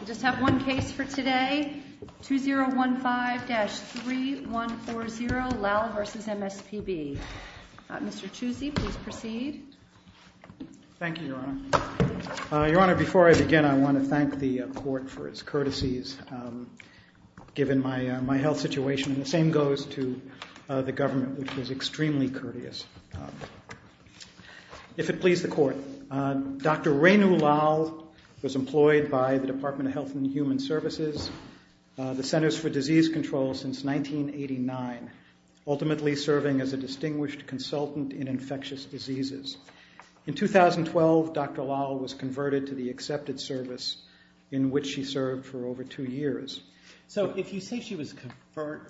We just have one case for today, 2015-3140, Lal v. MSPB. Mr. Chusi, please proceed. Thank you, Your Honor. Your Honor, before I begin, I want to thank the court for its courtesies, given my health situation. And the same goes to the government, which was extremely courteous. If it pleases the court, Dr. Renu Lal was employed by the Department of Health and Human Services, the Centers for Disease Control, since 1989, ultimately serving as a distinguished consultant in infectious diseases. In 2012, Dr. Lal was converted to the accepted service in which she served for over two years. So if you say she was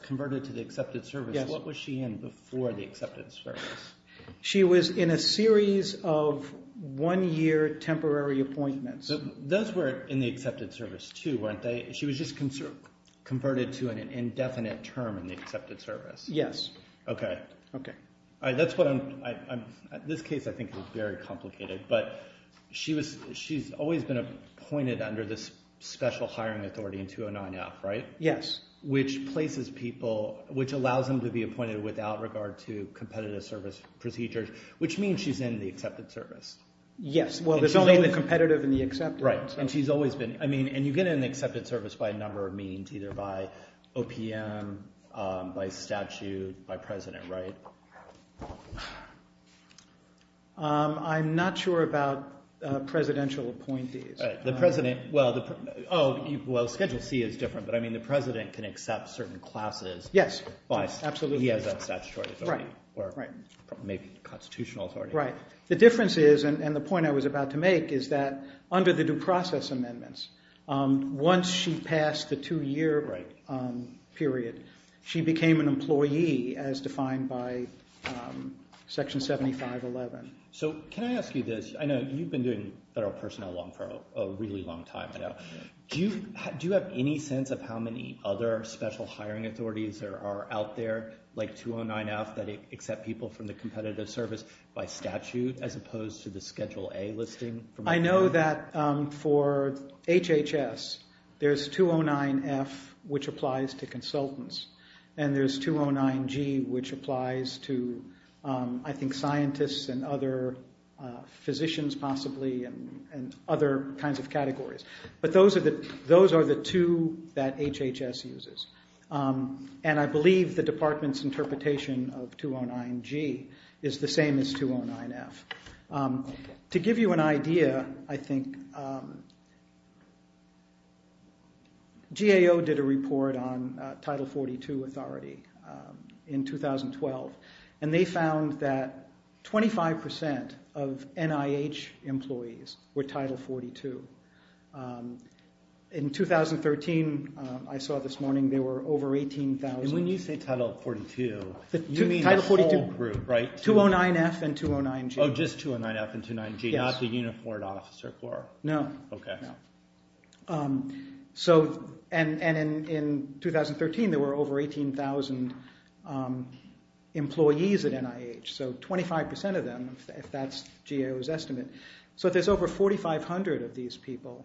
converted to the accepted service, what was she in before the accepted service? She was in a series of one-year temporary appointments. Those were in the accepted service, too, weren't they? She was just converted to an indefinite term in the accepted service? Yes. Okay. Okay. This case I think is very complicated, but she's always been appointed under this special hiring authority in 209-F, right? Yes. Which places people, which allows them to be appointed without regard to competitive service procedures, which means she's in the accepted service. Yes. Well, there's only the competitive and the accepted. And you get in the accepted service by a number of means, either by OPM, by statute, by president, right? I'm not sure about presidential appointees. The president – well, Schedule C is different, but I mean the president can accept certain classes. Yes, absolutely. He has that statutory authority, or maybe constitutional authority. The difference is, and the point I was about to make, is that under the due process amendments, once she passed the two-year period, she became an employee as defined by Section 7511. So can I ask you this? I know you've been doing federal personnel law for a really long time now. Do you have any sense of how many other special hiring authorities are out there, like 209-F, that accept people from the competitive service by statute as opposed to the Schedule A listing? I know that for HHS, there's 209-F, which applies to consultants, and there's 209-G, which applies to I think scientists and other physicians possibly and other kinds of categories. But those are the two that HHS uses, and I believe the department's interpretation of 209-G is the same as 209-F. To give you an idea, I think GAO did a report on Title 42 authority in 2012, and they found that 25% of NIH employees were Title 42. In 2013, I saw this morning, there were over 18,000. And when you say Title 42, you mean the whole group, right? 209-F and 209-G. Oh, just 209-F and 209-G, not the uniformed officer core? No. Okay. And in 2013, there were over 18,000 employees at NIH, so 25% of them, if that's GAO's estimate. So there's over 4,500 of these people.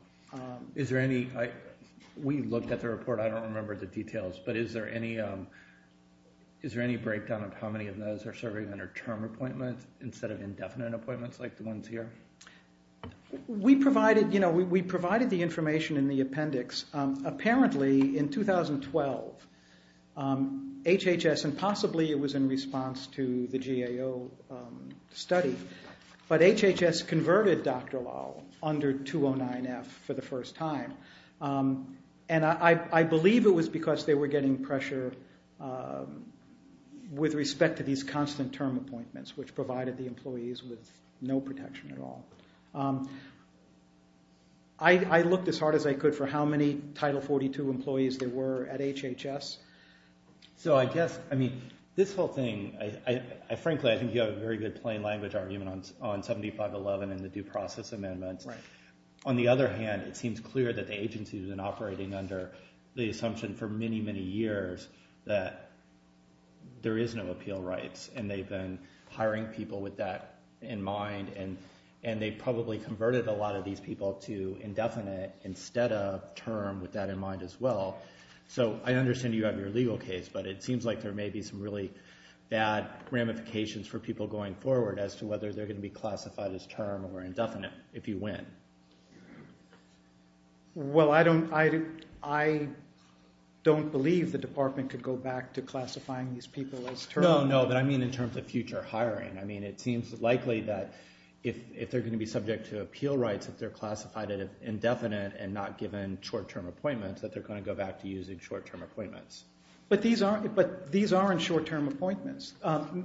We looked at the report. I don't remember the details, but is there any breakdown of how many of those are serving under term appointment instead of indefinite appointments like the ones here? We provided the information in the appendix. Apparently, in 2012, HHS, and possibly it was in response to the GAO study, but HHS converted Dr. Lau under 209-F for the first time. And I believe it was because they were getting pressure with respect to these constant term appointments, which provided the employees with no protection at all. I looked as hard as I could for how many Title 42 employees there were at HHS. So I guess, I mean, this whole thing, frankly, I think you have a very good plain language argument on 7511 and the due process amendments. On the other hand, it seems clear that the agency has been operating under the assumption for many, many years that there is no appeal rights, and they've been hiring people with that in mind, and they probably converted a lot of these people to indefinite instead of term with that in mind as well. So I understand you have your legal case, but it seems like there may be some really bad ramifications for people going forward as to whether they're going to be classified as term or indefinite if you win. Well, I don't believe the department could go back to classifying these people as term. No, but I mean in terms of future hiring. I mean, it seems likely that if they're going to be subject to appeal rights, if they're classified as indefinite and not given short-term appointments, that they're going to go back to using short-term appointments. But these aren't short-term appointments.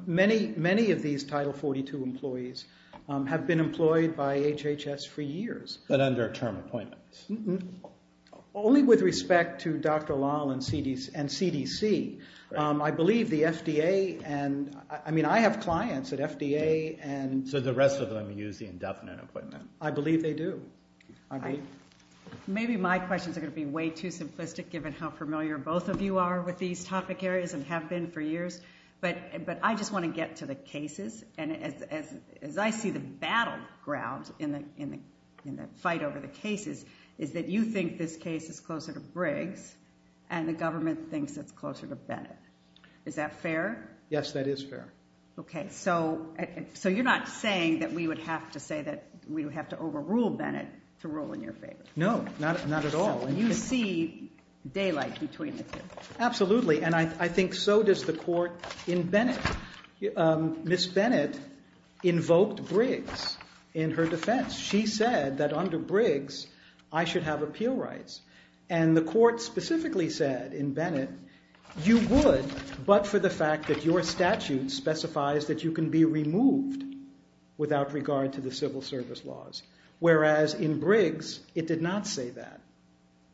Many of these Title 42 employees have been employed by HHS for years. But under term appointments. Only with respect to Dr. Lal and CDC. I believe the FDA and, I mean, I have clients at FDA and. So the rest of them use the indefinite appointment. I believe they do. Maybe my questions are going to be way too simplistic given how familiar both of you are with these topic areas and have been for years. But I just want to get to the cases. And as I see the battleground in the fight over the cases is that you think this case is closer to Briggs. And the government thinks it's closer to Bennett. Is that fair? Yes, that is fair. Okay, so you're not saying that we would have to say that we would have to overrule Bennett to rule in your favor? No, not at all. You see daylight between the two. Absolutely, and I think so does the court in Bennett. Ms. Bennett invoked Briggs in her defense. She said that under Briggs I should have appeal rights. And the court specifically said in Bennett you would but for the fact that your statute specifies that you can be removed without regard to the civil service laws. Whereas in Briggs it did not say that.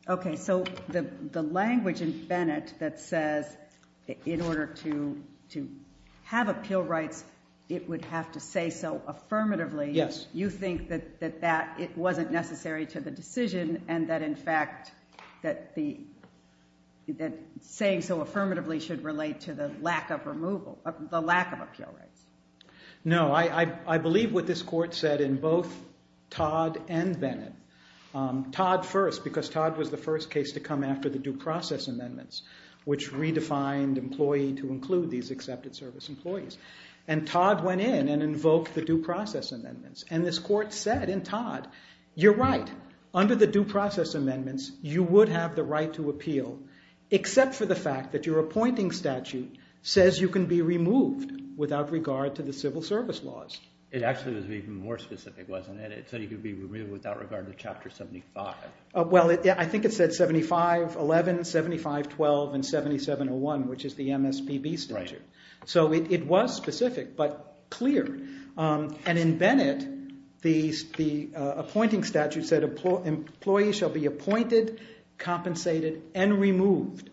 Okay, so the language in Bennett that says in order to have appeal rights it would have to say so affirmatively. Yes. You think that it wasn't necessary to the decision and that in fact that saying so affirmatively should relate to the lack of appeal rights. No, I believe what this court said in both Todd and Bennett. Todd first because Todd was the first case to come after the due process amendments which redefined employee to include these accepted service employees. And Todd went in and invoked the due process amendments and this court said in Todd you're right. Under the due process amendments you would have the right to appeal except for the fact that your appointing statute says you can be removed without regard to the civil service laws. It actually was even more specific, wasn't it? It said you could be removed without regard to Chapter 75. Well, I think it said 7511, 7512, and 7701 which is the MSPB statute. Right. So it was specific but clear. And in Bennett the appointing statute said employees shall be appointed, compensated, and removed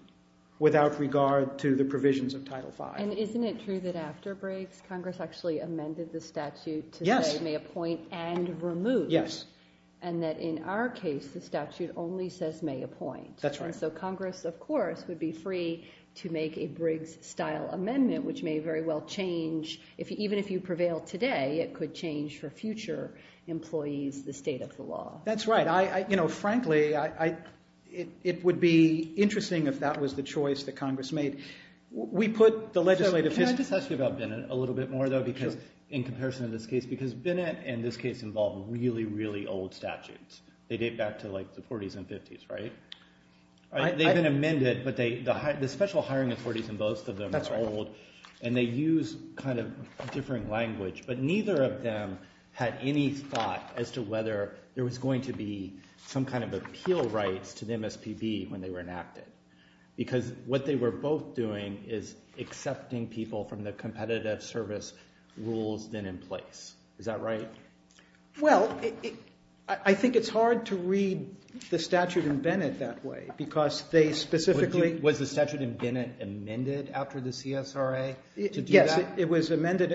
without regard to the provisions of Title V. And isn't it true that after Briggs Congress actually amended the statute to say may appoint and remove? Yes. And that in our case the statute only says may appoint. That's right. So Congress of course would be free to make a Briggs style amendment which may very well change, even if you prevail today, it could change for future employees the state of the law. That's right. Frankly, it would be interesting if that was the choice that Congress made. Can I just ask you about Bennett a little bit more though in comparison to this case? Because Bennett and this case involve really, really old statutes. They date back to like the 40s and 50s, right? They've been amended but the special hiring authorities in both of them are old. That's right. And they use kind of a different language. But neither of them had any thought as to whether there was going to be some kind of appeal rights to the MSPB when they were enacted. Because what they were both doing is accepting people from the competitive service rules then in place. Is that right? Well, I think it's hard to read the statute in Bennett that way because they specifically— Yes, it was amended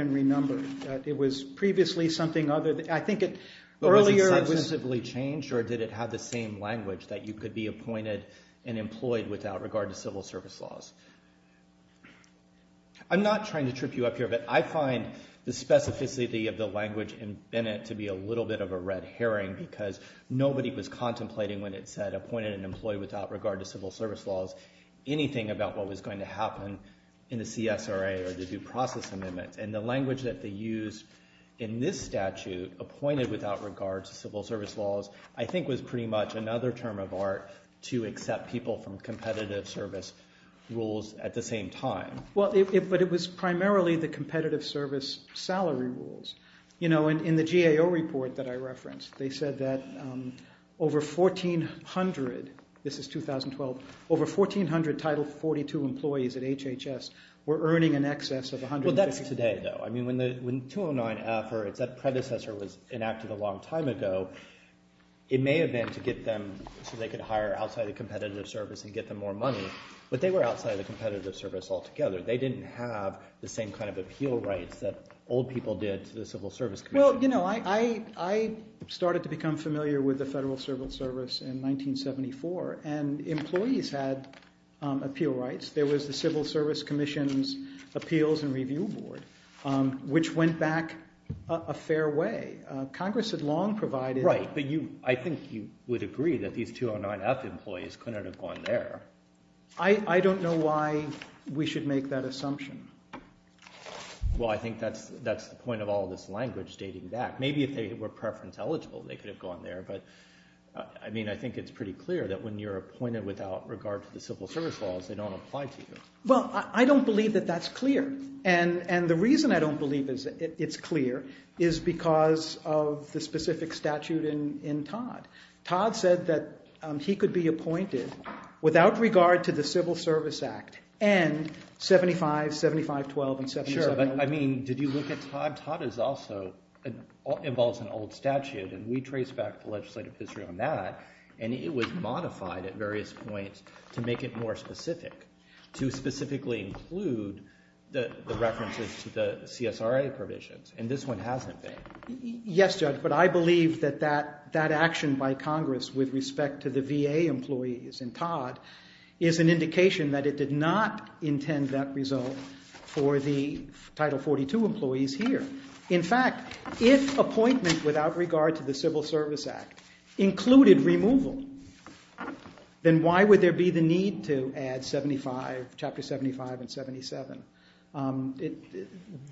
and renumbered. It was previously something other than—I think it— But was it successively changed or did it have the same language that you could be appointed and employed without regard to civil service laws? I'm not trying to trip you up here, but I find the specificity of the language in Bennett to be a little bit of a red herring because nobody was contemplating when it said appointed and employed without regard to civil service laws anything about what was going to happen. In the CSRA or the due process amendments and the language that they used in this statute, appointed without regard to civil service laws, I think was pretty much another term of art to accept people from competitive service rules at the same time. Well, but it was primarily the competitive service salary rules. In the GAO report that I referenced, they said that over 1,400—this is 2012—over 1,400 Title 42 employees at HHS were earning in excess of $150,000. Well, that's today, though. I mean when 209-F or its predecessor was enacted a long time ago, it may have been to get them so they could hire outside of competitive service and get them more money, but they were outside of competitive service altogether. They didn't have the same kind of appeal rights that old people did to the Civil Service Commission. Well, I started to become familiar with the Federal Civil Service in 1974, and employees had appeal rights. There was the Civil Service Commission's Appeals and Review Board, which went back a fair way. Congress had long provided— Right, but I think you would agree that these 209-F employees couldn't have gone there. I don't know why we should make that assumption. Well, I think that's the point of all this language dating back. Maybe if they were preference eligible, they could have gone there, but I mean I think it's pretty clear that when you're appointed without regard to the Civil Service laws, they don't apply to you. Well, I don't believe that that's clear, and the reason I don't believe it's clear is because of the specific statute in Todd. Todd said that he could be appointed without regard to the Civil Service Act and 75, 75-12, and 75-11. Sure, but I mean did you look at Todd? Todd is also—involves an old statute, and we traced back the legislative history on that, and it was modified at various points to make it more specific, to specifically include the references to the CSRA provisions, and this one hasn't been. Yes, Judge, but I believe that that action by Congress with respect to the VA employees in Todd is an indication that it did not intend that result for the Title 42 employees here. In fact, if appointment without regard to the Civil Service Act included removal, then why would there be the need to add 75, Chapter 75 and 77?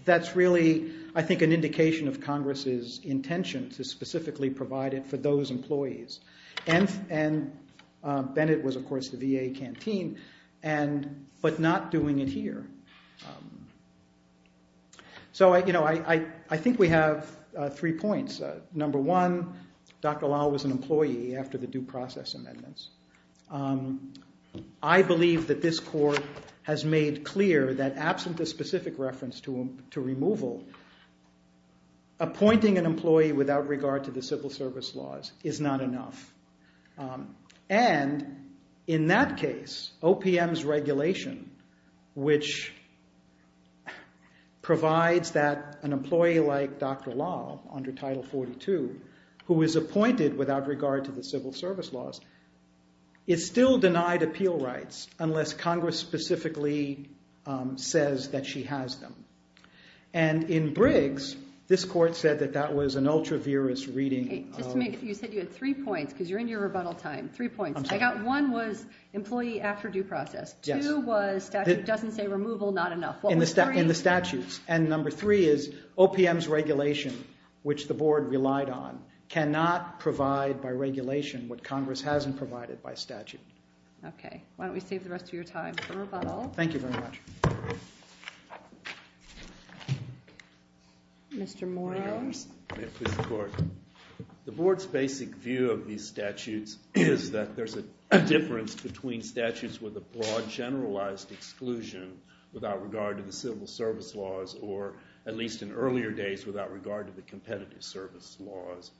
That's really, I think, an indication of Congress's intention to specifically provide it for those employees, and Bennett was, of course, the VA canteen, but not doing it here. So, you know, I think we have three points. Number one, Dr. Lyle was an employee after the due process amendments. I believe that this court has made clear that absent a specific reference to removal, appointing an employee without regard to the Civil Service laws is not enough. And in that case, OPM's regulation, which provides that an employee like Dr. Lyle under Title 42, who is appointed without regard to the Civil Service laws, is still denied appeal rights unless Congress specifically says that she has them. And in Briggs, this court said that that was an ultra-virus reading. You said you had three points, because you're in your rebuttal time. Three points. I got one was employee after due process. Two was statute doesn't say removal, not enough. In the statutes. And number three is OPM's regulation, which the board relied on, cannot provide by regulation what Congress hasn't provided by statute. Okay. Why don't we save the rest of your time for rebuttal. Thank you very much. Mr. Moyers. The board's basic view of these statutes is that there's a difference between statutes with a broad, generalized exclusion without regard to the Civil Service laws, or at least in earlier days without regard to the Competitive Service laws,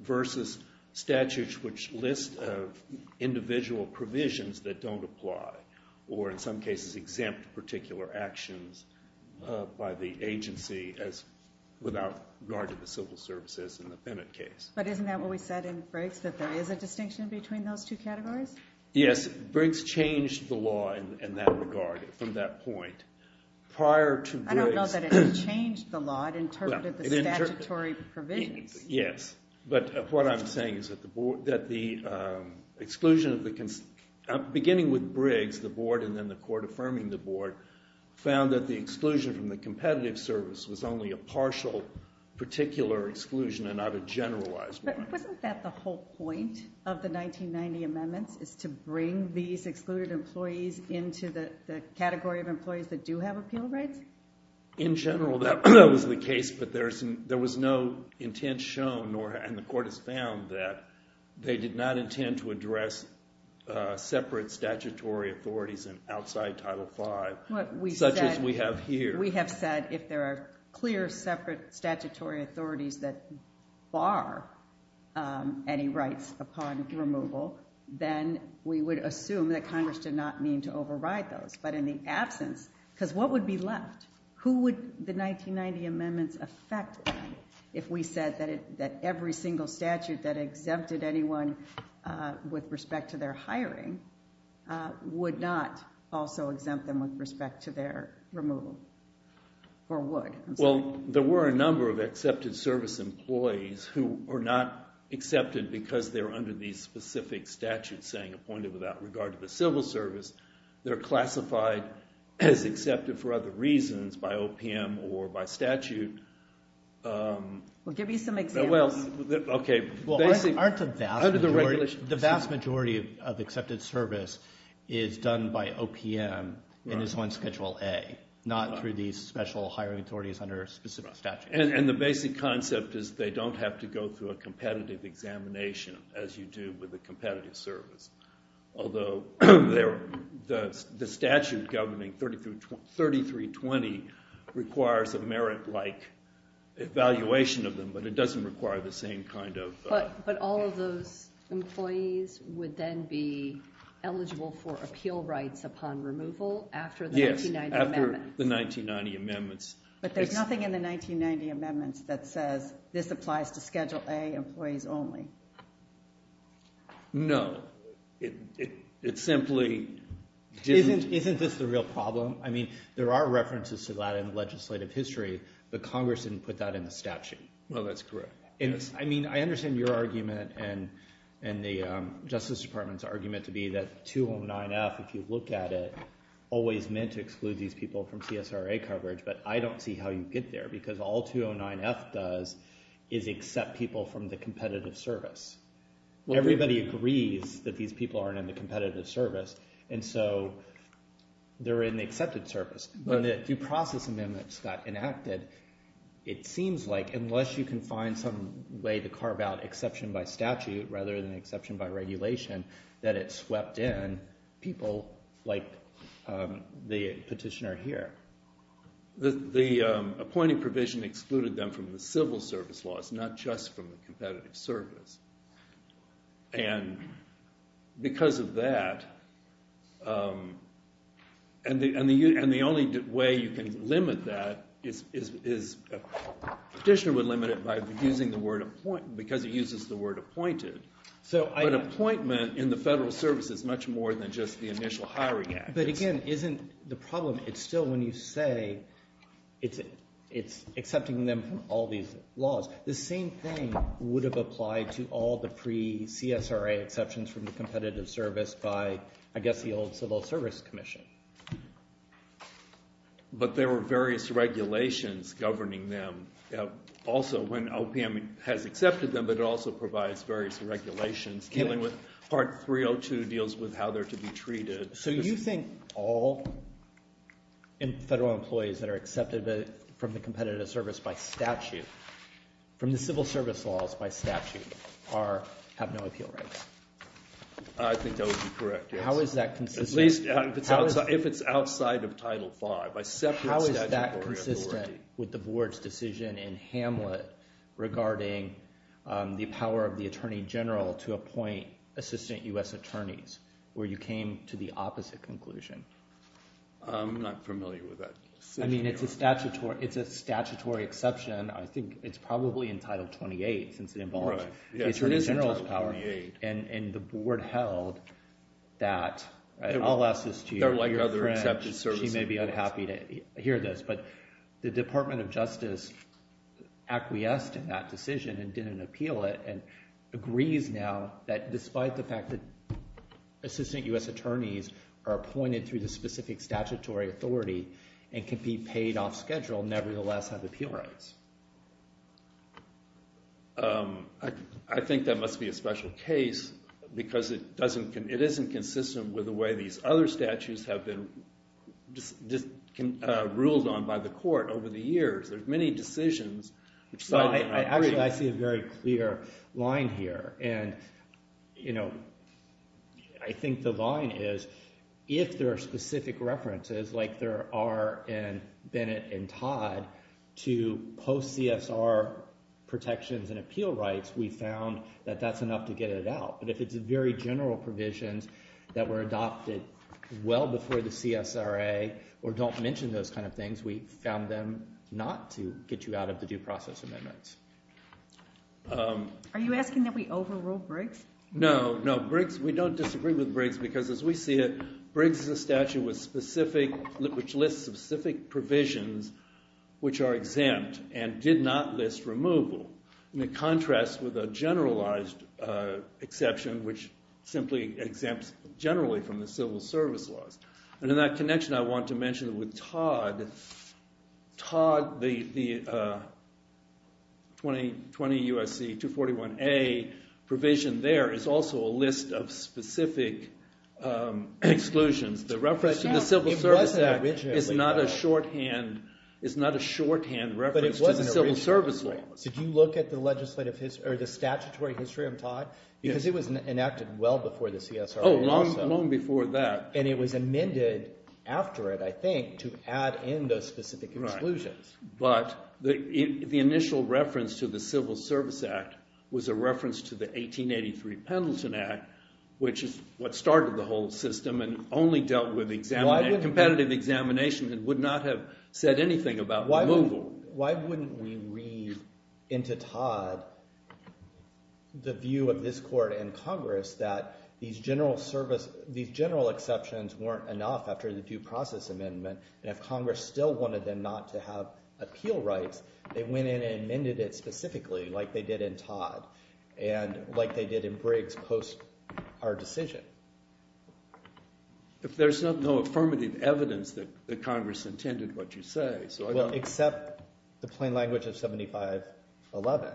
versus statutes which list individual provisions that don't apply, or in some cases exempt particular actions by the agency without regard to the Civil Service in the Bennett case. But isn't that what we said in Briggs, that there is a distinction between those two categories? Yes. Briggs changed the law in that regard, from that point. Prior to Briggs. I don't know that it changed the law. It interpreted the statutory provisions. Yes. But what I'm saying is that the exclusion, beginning with Briggs, the board, and then the court affirming the board, found that the exclusion from the Competitive Service was only a partial, particular exclusion and not a generalized one. But wasn't that the whole point of the 1990 amendments, is to bring these excluded employees into the category of employees that do have appeal rights? In general, that was the case, but there was no intent shown, and the court has found, that they did not intend to address separate statutory authorities outside Title V, such as we have here. We have said, if there are clear, separate statutory authorities that bar any rights upon removal, then we would assume that Congress did not mean to override those. But in the absence, because what would be left? Who would the 1990 amendments affect if we said that every single statute that exempted anyone with respect to their hiring, would not also exempt them with respect to their removal? Or would? Well, there were a number of Accepted Service employees who were not accepted because they were under these specific statutes, saying appointed without regard to the civil service. They're classified as accepted for other reasons, by OPM or by statute. Well, give me some examples. The vast majority of Accepted Service is done by OPM and is on Schedule A, not through these special hiring authorities under specific statutes. And the basic concept is, they don't have to go through a competitive examination, as you do with a competitive service. Although, the statute governing 3320 requires a merit-like evaluation of them, but it doesn't require the same kind of... But all of those employees would then be eligible for appeal rights upon removal after the 1990 amendments? Yes, after the 1990 amendments. But there's nothing in the 1990 amendments that says, this applies to Schedule A employees only? No. It simply... Isn't this the real problem? I mean, there are references to that in legislative history, but Congress didn't put that in the statute. Well, that's correct. I mean, I understand your argument and the Justice Department's argument to be that 209F, if you look at it, always meant to exclude these people from CSRA coverage, but I don't see how you get there, because all 209F does is accept people from the competitive service. Everybody agrees that these people aren't in the competitive service, and so they're in the Accepted Service. But if due process amendments got enacted, it seems like unless you can find some way to carve out exception by statute rather than exception by regulation, that it swept in people like the petitioner here. The appointing provision excluded them from the civil service laws, not just from the competitive service. And because of that, and the only way you can limit that is a petitioner would limit it by using the word appoint, because it uses the word appointed. But appointment in the federal service is much more than just the initial hiring act. But again, isn't the problem, it's still when you say it's accepting them from all these laws. The same thing would have applied to all the pre-CSRA exceptions from the competitive service by, I guess, the old Civil Service Commission. But there were various regulations governing them. Also, when OPM has accepted them, but it also provides various regulations dealing with Part 302 deals with how they're to be treated. So you think all federal employees that are accepted from the competitive service by statute, from the civil service laws by statute, have no appeal rights? I think that would be correct, yes. How is that consistent? At least if it's outside of Title V. How is that consistent with the board's decision in Hamlet regarding the power of the Attorney General to appoint assistant US attorneys, where you came to the opposite conclusion? I'm not familiar with that. I mean, it's a statutory exception. I think it's probably in Title 28, since it involves the Attorney General's power. And the board held that. I'll ask this to your friend. She may be unhappy to hear this. But the Department of Justice acquiesced in that decision and didn't appeal it, and agrees now that despite the fact that assistant US attorneys are appointed through the specific statutory authority and can be paid off schedule, nevertheless have appeal rights. I think that must be a special case, because it isn't consistent with the way these other statutes have been ruled on by the court over the years. There's many decisions. Actually, I see a very clear line here. And I think the line is, if there are specific references, like there are in Bennett and Todd, to post-CSR protections and appeal rights, we found that that's enough to get it out. But if it's very general provisions that were adopted well before the CSRA, or don't mention those kind of things, we found them not to get you out of the due process amendments. Are you asking that we overrule Briggs? No, no. We don't disagree with Briggs, because as we see it, Briggs is a statute which lists specific provisions which are exempt and did not list removal, in contrast with a generalized exception which simply exempts generally from the civil service laws. And in that connection, I want to mention with Todd, the 2020 USC 241A provision there is also a list of specific exclusions. The reference to the Civil Service Act is not a shorthand reference to the civil service laws. Did you look at the statutory history of Todd? Because it was enacted well before the CSRA also. Oh, long before that. And it was amended after it, I think, to add in those specific exclusions. But the initial reference to the Civil Service Act was a reference to the 1883 Pendleton Act, which is what started the whole system and only dealt with competitive examination and would not have said anything about removal. So why wouldn't we read into Todd the view of this court and Congress that these general exceptions weren't enough after the due process amendment? And if Congress still wanted them not to have appeal rights, they went in and amended it specifically, like they did in Todd, and like they did in Briggs post our decision. If there's no affirmative evidence that Congress intended what you say, so I don't know. Except the plain language of 7511.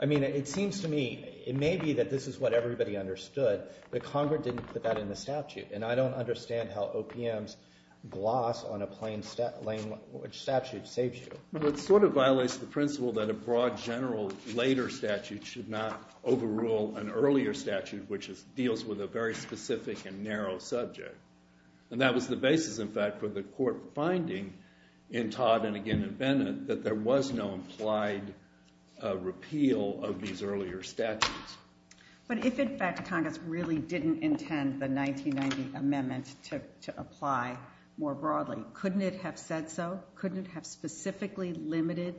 I mean, it seems to me, it may be that this is what everybody understood, but Congress didn't put that in the statute. And I don't understand how OPM's gloss on a plain language statute saves you. It sort of violates the principle that a broad general later statute should not overrule an earlier statute, which deals with a very specific and narrow subject. And that was the basis, in fact, for the court finding in Todd and again in Bennett that there was no implied repeal of these earlier statutes. But if, in fact, Congress really didn't intend the 1990 amendment to apply more broadly, couldn't it have said so? Couldn't it have specifically limited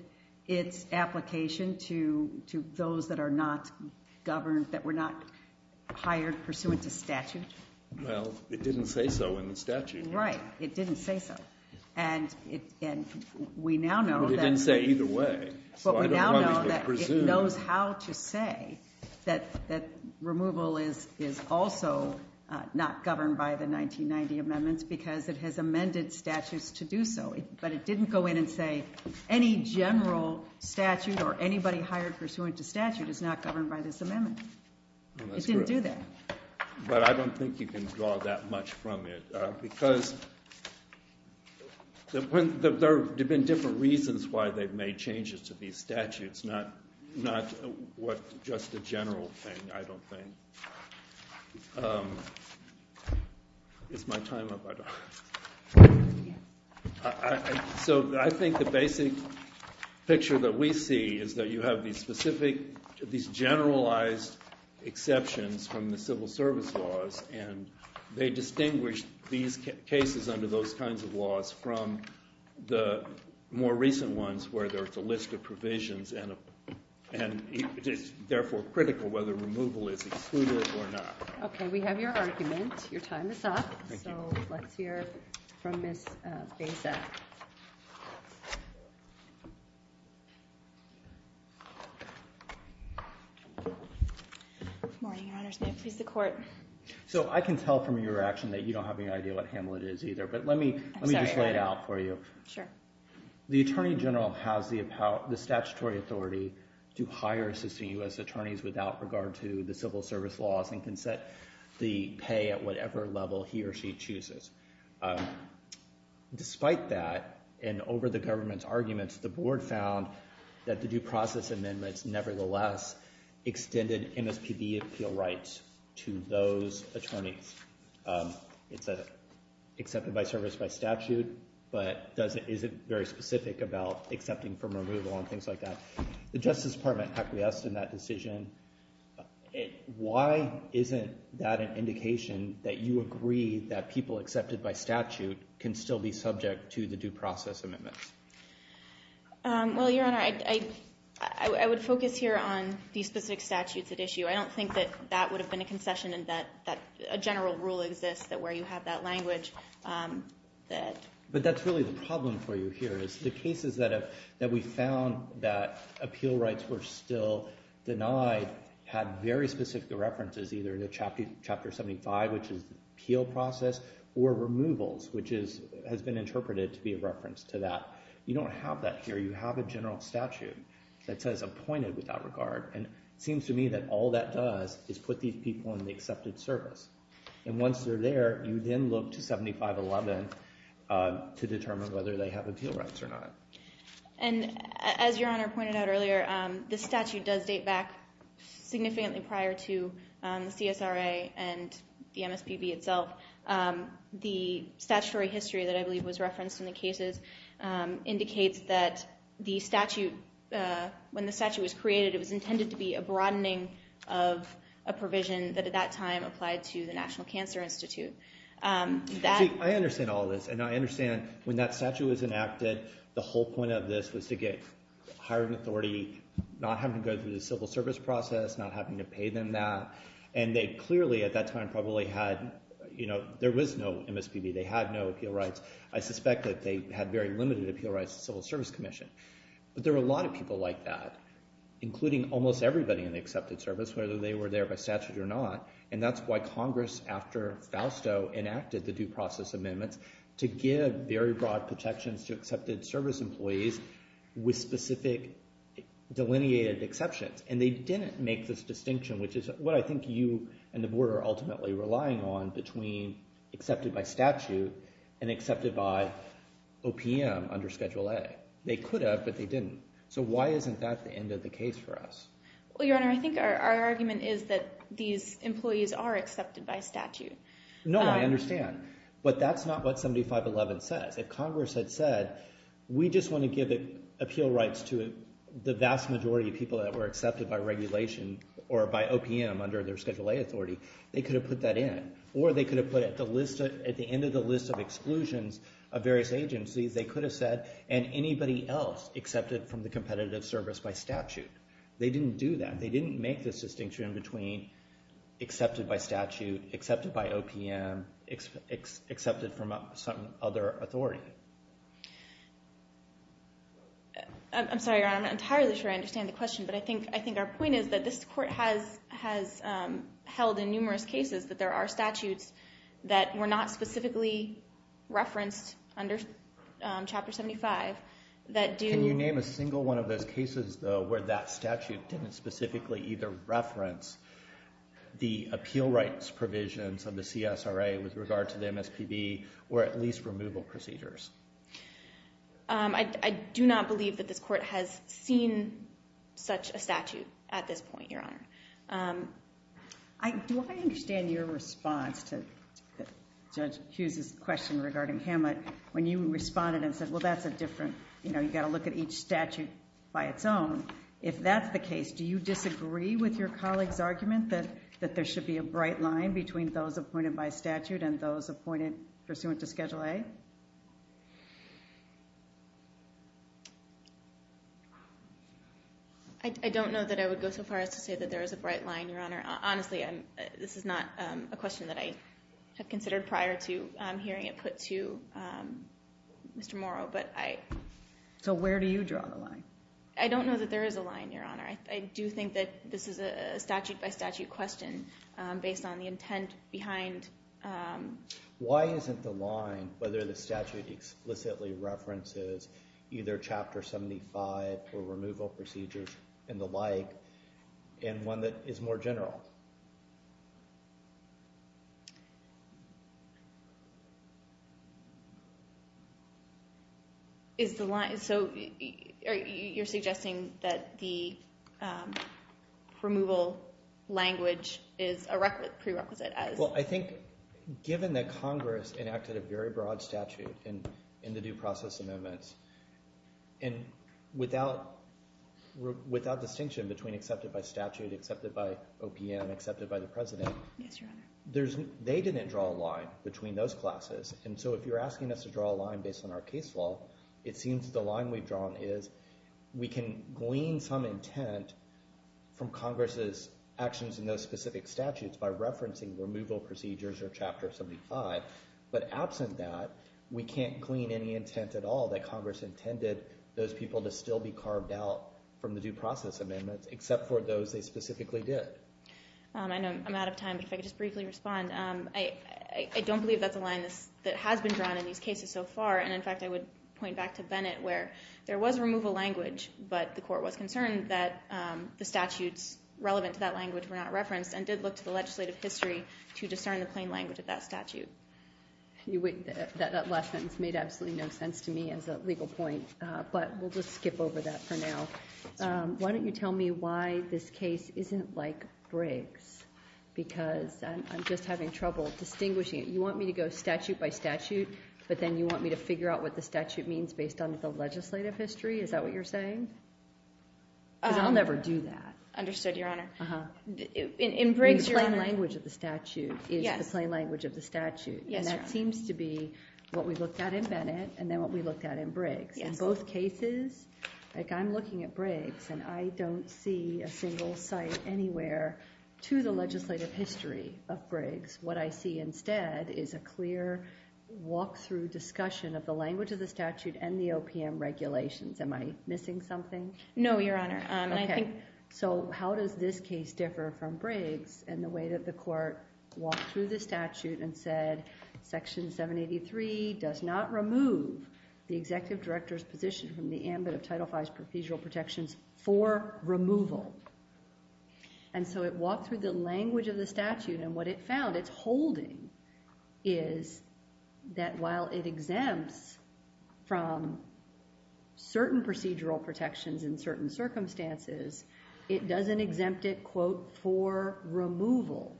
its application to those that are not governed, that were not hired pursuant to statute? Well, it didn't say so in the statute. Right. It didn't say so. And we now know that. It didn't say either way. But we now know that it knows how to say that removal is also not governed by the 1990 amendments because it has amended statutes to do so. But it didn't go in and say any general statute or anybody hired pursuant to statute is not governed by this amendment. It didn't do that. But I don't think you can draw that much from it because there have been different reasons why they've made changes to these statutes, not just a general thing, I don't think. Is my time up? So I think the basic picture that we see is that you have these specific, these generalized exceptions from the civil service laws, and they distinguish these cases under those kinds of laws from the more recent ones where there's a list of provisions, and it is therefore critical whether removal is excluded or not. Okay. We have your argument. Your time is up. Thank you. So let's hear from Ms. Beza. Good morning, Your Honors. May it please the Court. So I can tell from your action that you don't have any idea what Hamlet is either, but let me just lay it out for you. I'm sorry. Sure. The Attorney General has the statutory authority to hire assisting U.S. attorneys without regard to the civil service laws and can set the pay at whatever level he or she chooses. Despite that, and over the government's arguments, the Board found that the due process amendments nevertheless extended MSPB appeal rights to those attorneys. It's accepted by service by statute, but isn't very specific about accepting from removal and things like that. The Justice Department acquiesced in that decision. Why isn't that an indication that you agree that people accepted by statute can still be subject to the due process amendments? Well, Your Honor, I would focus here on these specific statutes at issue. I don't think that that would have been a concession and that a general rule exists where you have that language. But that's really the problem for you here is the cases that we found that appeal rights were still denied had very specific references, either in Chapter 75, which is the appeal process, or removals, which has been interpreted to be a reference to that. You don't have that here. You have a general statute that says appointed without regard. And it seems to me that all that does is put these people in the accepted service. And once they're there, you then look to 7511 to determine whether they have appeal rights or not. And as Your Honor pointed out earlier, the statute does date back significantly prior to the CSRA and the MSPB itself. The statutory history that I believe was referenced in the cases indicates that when the statute was created, it was intended to be a broadening of a provision that at that time applied to the National Cancer Institute. I understand all this. And I understand when that statute was enacted, the whole point of this was to get higher authority, not having to go through the civil service process, not having to pay them that. And they clearly at that time probably had, you know, there was no MSPB. They had no appeal rights. I suspect that they had very limited appeal rights to the Civil Service Commission. But there were a lot of people like that, including almost everybody in the accepted service, whether they were there by statute or not. And that's why Congress, after Fausto, enacted the due process amendments to give very broad protections to accepted service employees with specific delineated exceptions. And they didn't make this distinction, which is what I think you and the Board are ultimately relying on between accepted by statute and accepted by OPM under Schedule A. They could have, but they didn't. So why isn't that the end of the case for us? Well, Your Honor, I think our argument is that these employees are accepted by statute. No, I understand. But that's not what 7511 says. If Congress had said, we just want to give appeal rights to the vast majority of people that were accepted by regulation or by OPM under their Schedule A authority, they could have put that in. Or they could have put at the end of the list of exclusions of various agencies, they could have said, and anybody else accepted from the competitive service by statute. They didn't do that. They didn't make this distinction between accepted by statute, accepted by OPM, and accepted from some other authority. I'm sorry, Your Honor. I'm not entirely sure I understand the question. But I think our point is that this Court has held in numerous cases that there are statutes that were not specifically referenced under Chapter 75 that do. Where that statute didn't specifically either reference the appeal rights provisions of the CSRA with regard to the MSPB or at least removal procedures. I do not believe that this Court has seen such a statute at this point, Your Honor. Do I understand your response to Judge Hughes' question regarding Hammett when you responded and said, well, that's a different, you know, if that's the case, do you disagree with your colleague's argument that there should be a bright line between those appointed by statute and those appointed pursuant to Schedule A? I don't know that I would go so far as to say that there is a bright line, Your Honor. Honestly, this is not a question that I have considered prior to hearing it put to Mr. Morrow. So where do you draw the line? I don't know that there is a line, Your Honor. I do think that this is a statute-by-statute question based on the intent behind— Why isn't the line whether the statute explicitly references either Chapter 75 or removal procedures and the like in one that is more general? Is the line—so you're suggesting that the removal language is a prerequisite as— Well, I think given that Congress enacted a very broad statute in the due process amendments and without distinction between accepted by statute, accepted by OPM, accepted by the President— Yes, Your Honor. They didn't draw a line between those classes. And so if you're asking us to draw a line based on our case law, it seems the line we've drawn is we can glean some intent from Congress's actions in those specific statutes by referencing removal procedures or Chapter 75, but absent that, we can't glean any intent at all that Congress intended those people to still be carved out from the due process amendments except for those they specifically did. I know I'm out of time, but if I could just briefly respond. I don't believe that's a line that has been drawn in these cases so far. And in fact, I would point back to Bennett where there was removal language, but the court was concerned that the statutes relevant to that language were not referenced and did look to the legislative history to discern the plain language of that statute. That last sentence made absolutely no sense to me as a legal point, but we'll just skip over that for now. Why don't you tell me why this case isn't like Briggs, because I'm just having trouble distinguishing it. You want me to go statute by statute, but then you want me to figure out what the statute means based on the legislative history? Is that what you're saying? Because I'll never do that. Understood, Your Honor. The plain language of the statute is the plain language of the statute, and that seems to be what we looked at in Bennett and then what we looked at in Briggs. In both cases, like I'm looking at Briggs, and I don't see a single site anywhere to the legislative history of Briggs. What I see instead is a clear walk-through discussion of the language of the statute and the OPM regulations. Am I missing something? No, Your Honor. How does this case differ from Briggs in the way that the court walked through the statute and said Section 783 does not remove the executive director's position from the ambit of Title V's procedural protections for removal? It walked through the language of the statute, and what it found it's holding is that while it exempts from certain procedural protections in certain circumstances, it doesn't exempt it, quote, for removal.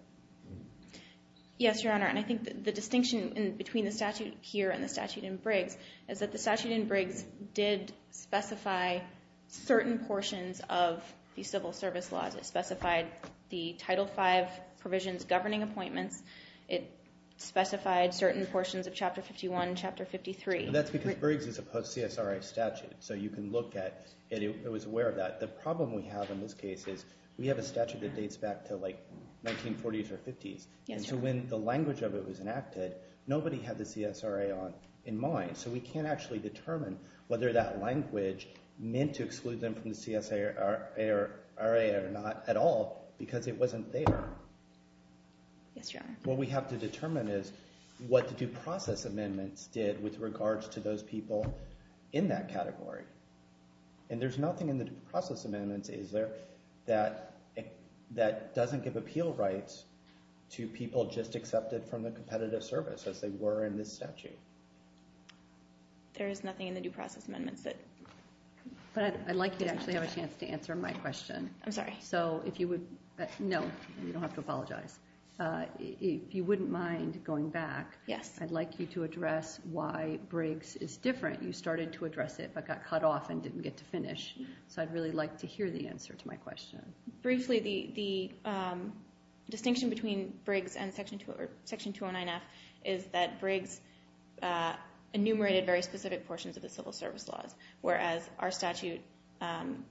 Yes, Your Honor, and I think the distinction between the statute here and the statute in Briggs is that the statute in Briggs did specify certain portions of the civil service laws. It specified the Title V provisions governing appointments. It specified certain portions of Chapter 51 and Chapter 53. That's because Briggs is a post-CSRA statute, so you can look at it. It was aware of that. The problem we have in this case is we have a statute that dates back to, like, 1940s or 50s, and so when the language of it was enacted, nobody had the CSRA in mind, so we can't actually determine whether that language meant to exclude them from the CSRA or not at all because it wasn't there. Yes, Your Honor. What we have to determine is what the due process amendments did with regards to those people in that category, and there's nothing in the due process amendments, is there, that doesn't give appeal rights to people just accepted from the competitive service as they were in this statute. There is nothing in the due process amendments that... But I'd like you to actually have a chance to answer my question. I'm sorry. No, you don't have to apologize. If you wouldn't mind going back, I'd like you to address why Briggs is different. You started to address it but got cut off and didn't get to finish, so I'd really like to hear the answer to my question. Briefly, the distinction between Briggs and Section 209F is that Briggs enumerated very specific portions of the civil service laws, whereas our statute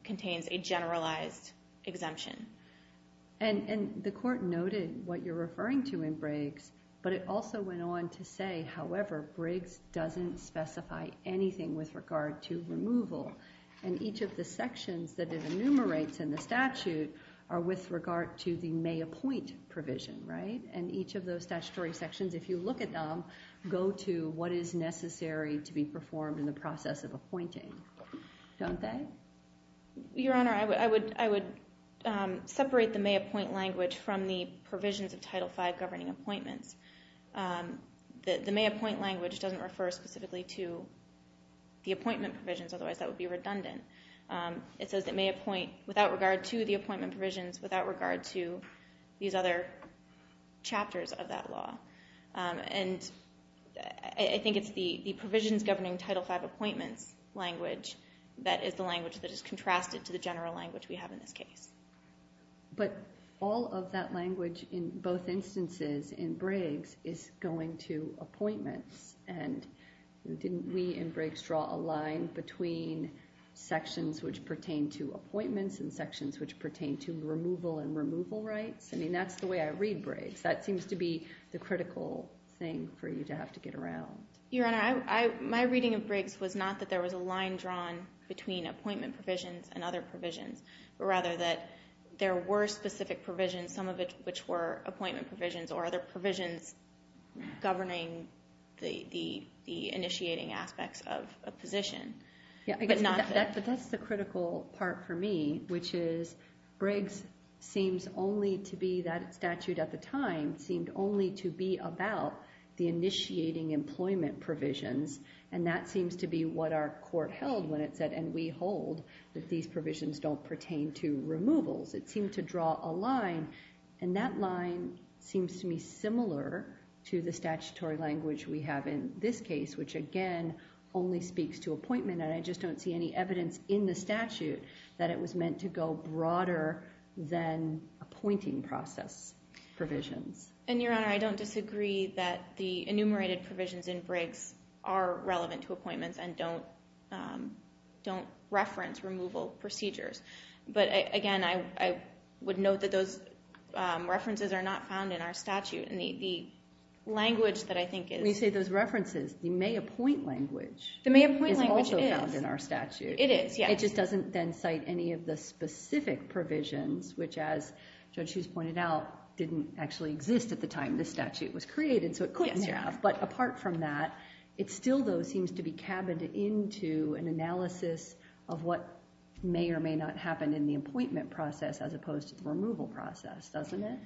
contains a generalized exemption. And the court noted what you're referring to in Briggs, but it also went on to say, however, Briggs doesn't specify anything with regard to removal, and each of the sections that it enumerates in the statute are with regard to the may appoint provision, right? And each of those statutory sections, if you look at them, go to what is necessary to be performed in the process of appointing, don't they? Your Honor, I would separate the may appoint language from the provisions of Title V governing appointments. The may appoint language doesn't refer specifically to the appointment provisions, otherwise that would be redundant. It says it may appoint without regard to the appointment provisions, without regard to these other chapters of that law. And I think it's the provisions governing Title V appointments language that is the language that is contrasted to the general language we have in this case. But all of that language in both instances in Briggs is going to appointments, and didn't we in Briggs draw a line between sections which pertain to appointments and sections which pertain to removal and removal rights? I mean, that's the way I read Briggs. That seems to be the critical thing for you to have to get around. Your Honor, my reading of Briggs was not that there was a line drawn between appointment provisions and other provisions, but rather that there were specific provisions, some of which were appointment provisions or other provisions governing the initiating aspects of a position. But that's the critical part for me, which is Briggs seems only to be that statute at the time seemed only to be about the initiating employment provisions, and that seems to be what our court held when it said, and we hold that these provisions don't pertain to removals. It seemed to draw a line, and that line seems to me similar to the statutory language we have in this case, which again only speaks to appointment, and I just don't see any evidence in the statute that it was meant to go broader than appointing process provisions. And, Your Honor, I don't disagree that the enumerated provisions in Briggs are relevant to appointments and don't reference removal procedures. But, again, I would note that those references are not found in our statute, and the language that I think is— When you say those references, the may appoint language is also— It is. It is. It just doesn't then cite any of the specific provisions, which, as Judge Hughes pointed out, didn't actually exist at the time this statute was created, so it couldn't have. But apart from that, it still, though, seems to be cabined into an analysis of what may or may not happen in the appointment process as opposed to the removal process, doesn't it?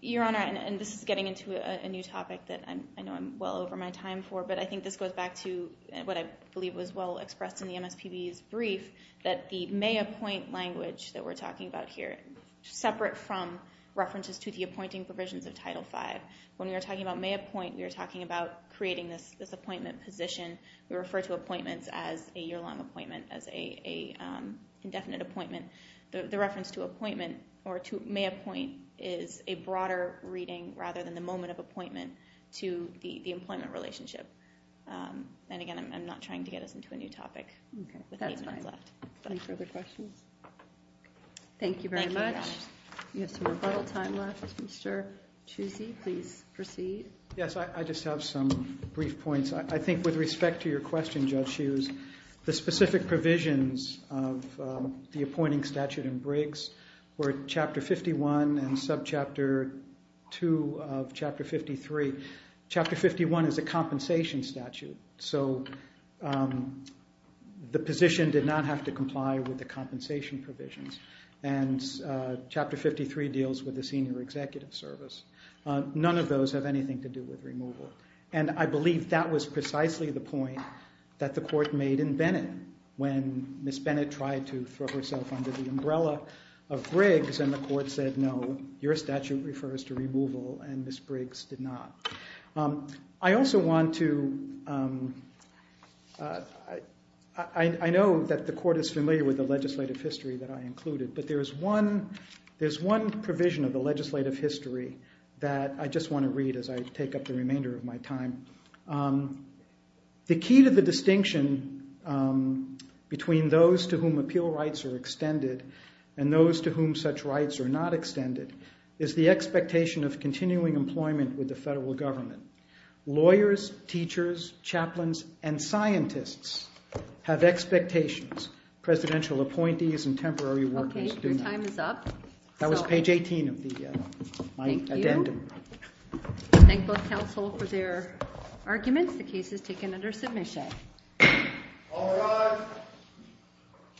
Your Honor, and this is getting into a new topic that I know I'm well over my time for, but I think this goes back to what I believe was well expressed in the MSPB's brief, that the may appoint language that we're talking about here, separate from references to the appointing provisions of Title V, when we were talking about may appoint, we were talking about creating this appointment position. We refer to appointments as a year-long appointment, as an indefinite appointment. The reference to appointment or to may appoint is a broader reading rather than the moment of appointment to the employment relationship. And again, I'm not trying to get us into a new topic with eight minutes left. Okay, that's fine. Any further questions? Thank you very much. Thank you, Your Honor. We have some rebuttal time left. Mr. Chusey, please proceed. Yes, I just have some brief points. I think with respect to your question, Judge Hughes, the specific provisions of the appointing statute in Briggs were Chapter 51 and Subchapter 2 of Chapter 53. Chapter 51 is a compensation statute, so the position did not have to comply with the compensation provisions. And Chapter 53 deals with the senior executive service. None of those have anything to do with removal. And I believe that was precisely the point that the court made in Bennett when Ms. Bennett tried to throw herself under the umbrella of Briggs and the court said, no, your statute refers to removal, and Ms. Briggs did not. I also want to – I know that the court is familiar with the legislative history that I included, but there's one provision of the legislative history that I just want to read as I take up the remainder of my time. The key to the distinction between those to whom appeal rights are extended and those to whom such rights are not extended is the expectation of continuing employment with the federal government. Lawyers, teachers, chaplains, and scientists have expectations. Presidential appointees and temporary workers do not. Okay, your time is up. That was page 18 of my addendum. Thank both counsel for their arguments. The case is taken under submission. All rise.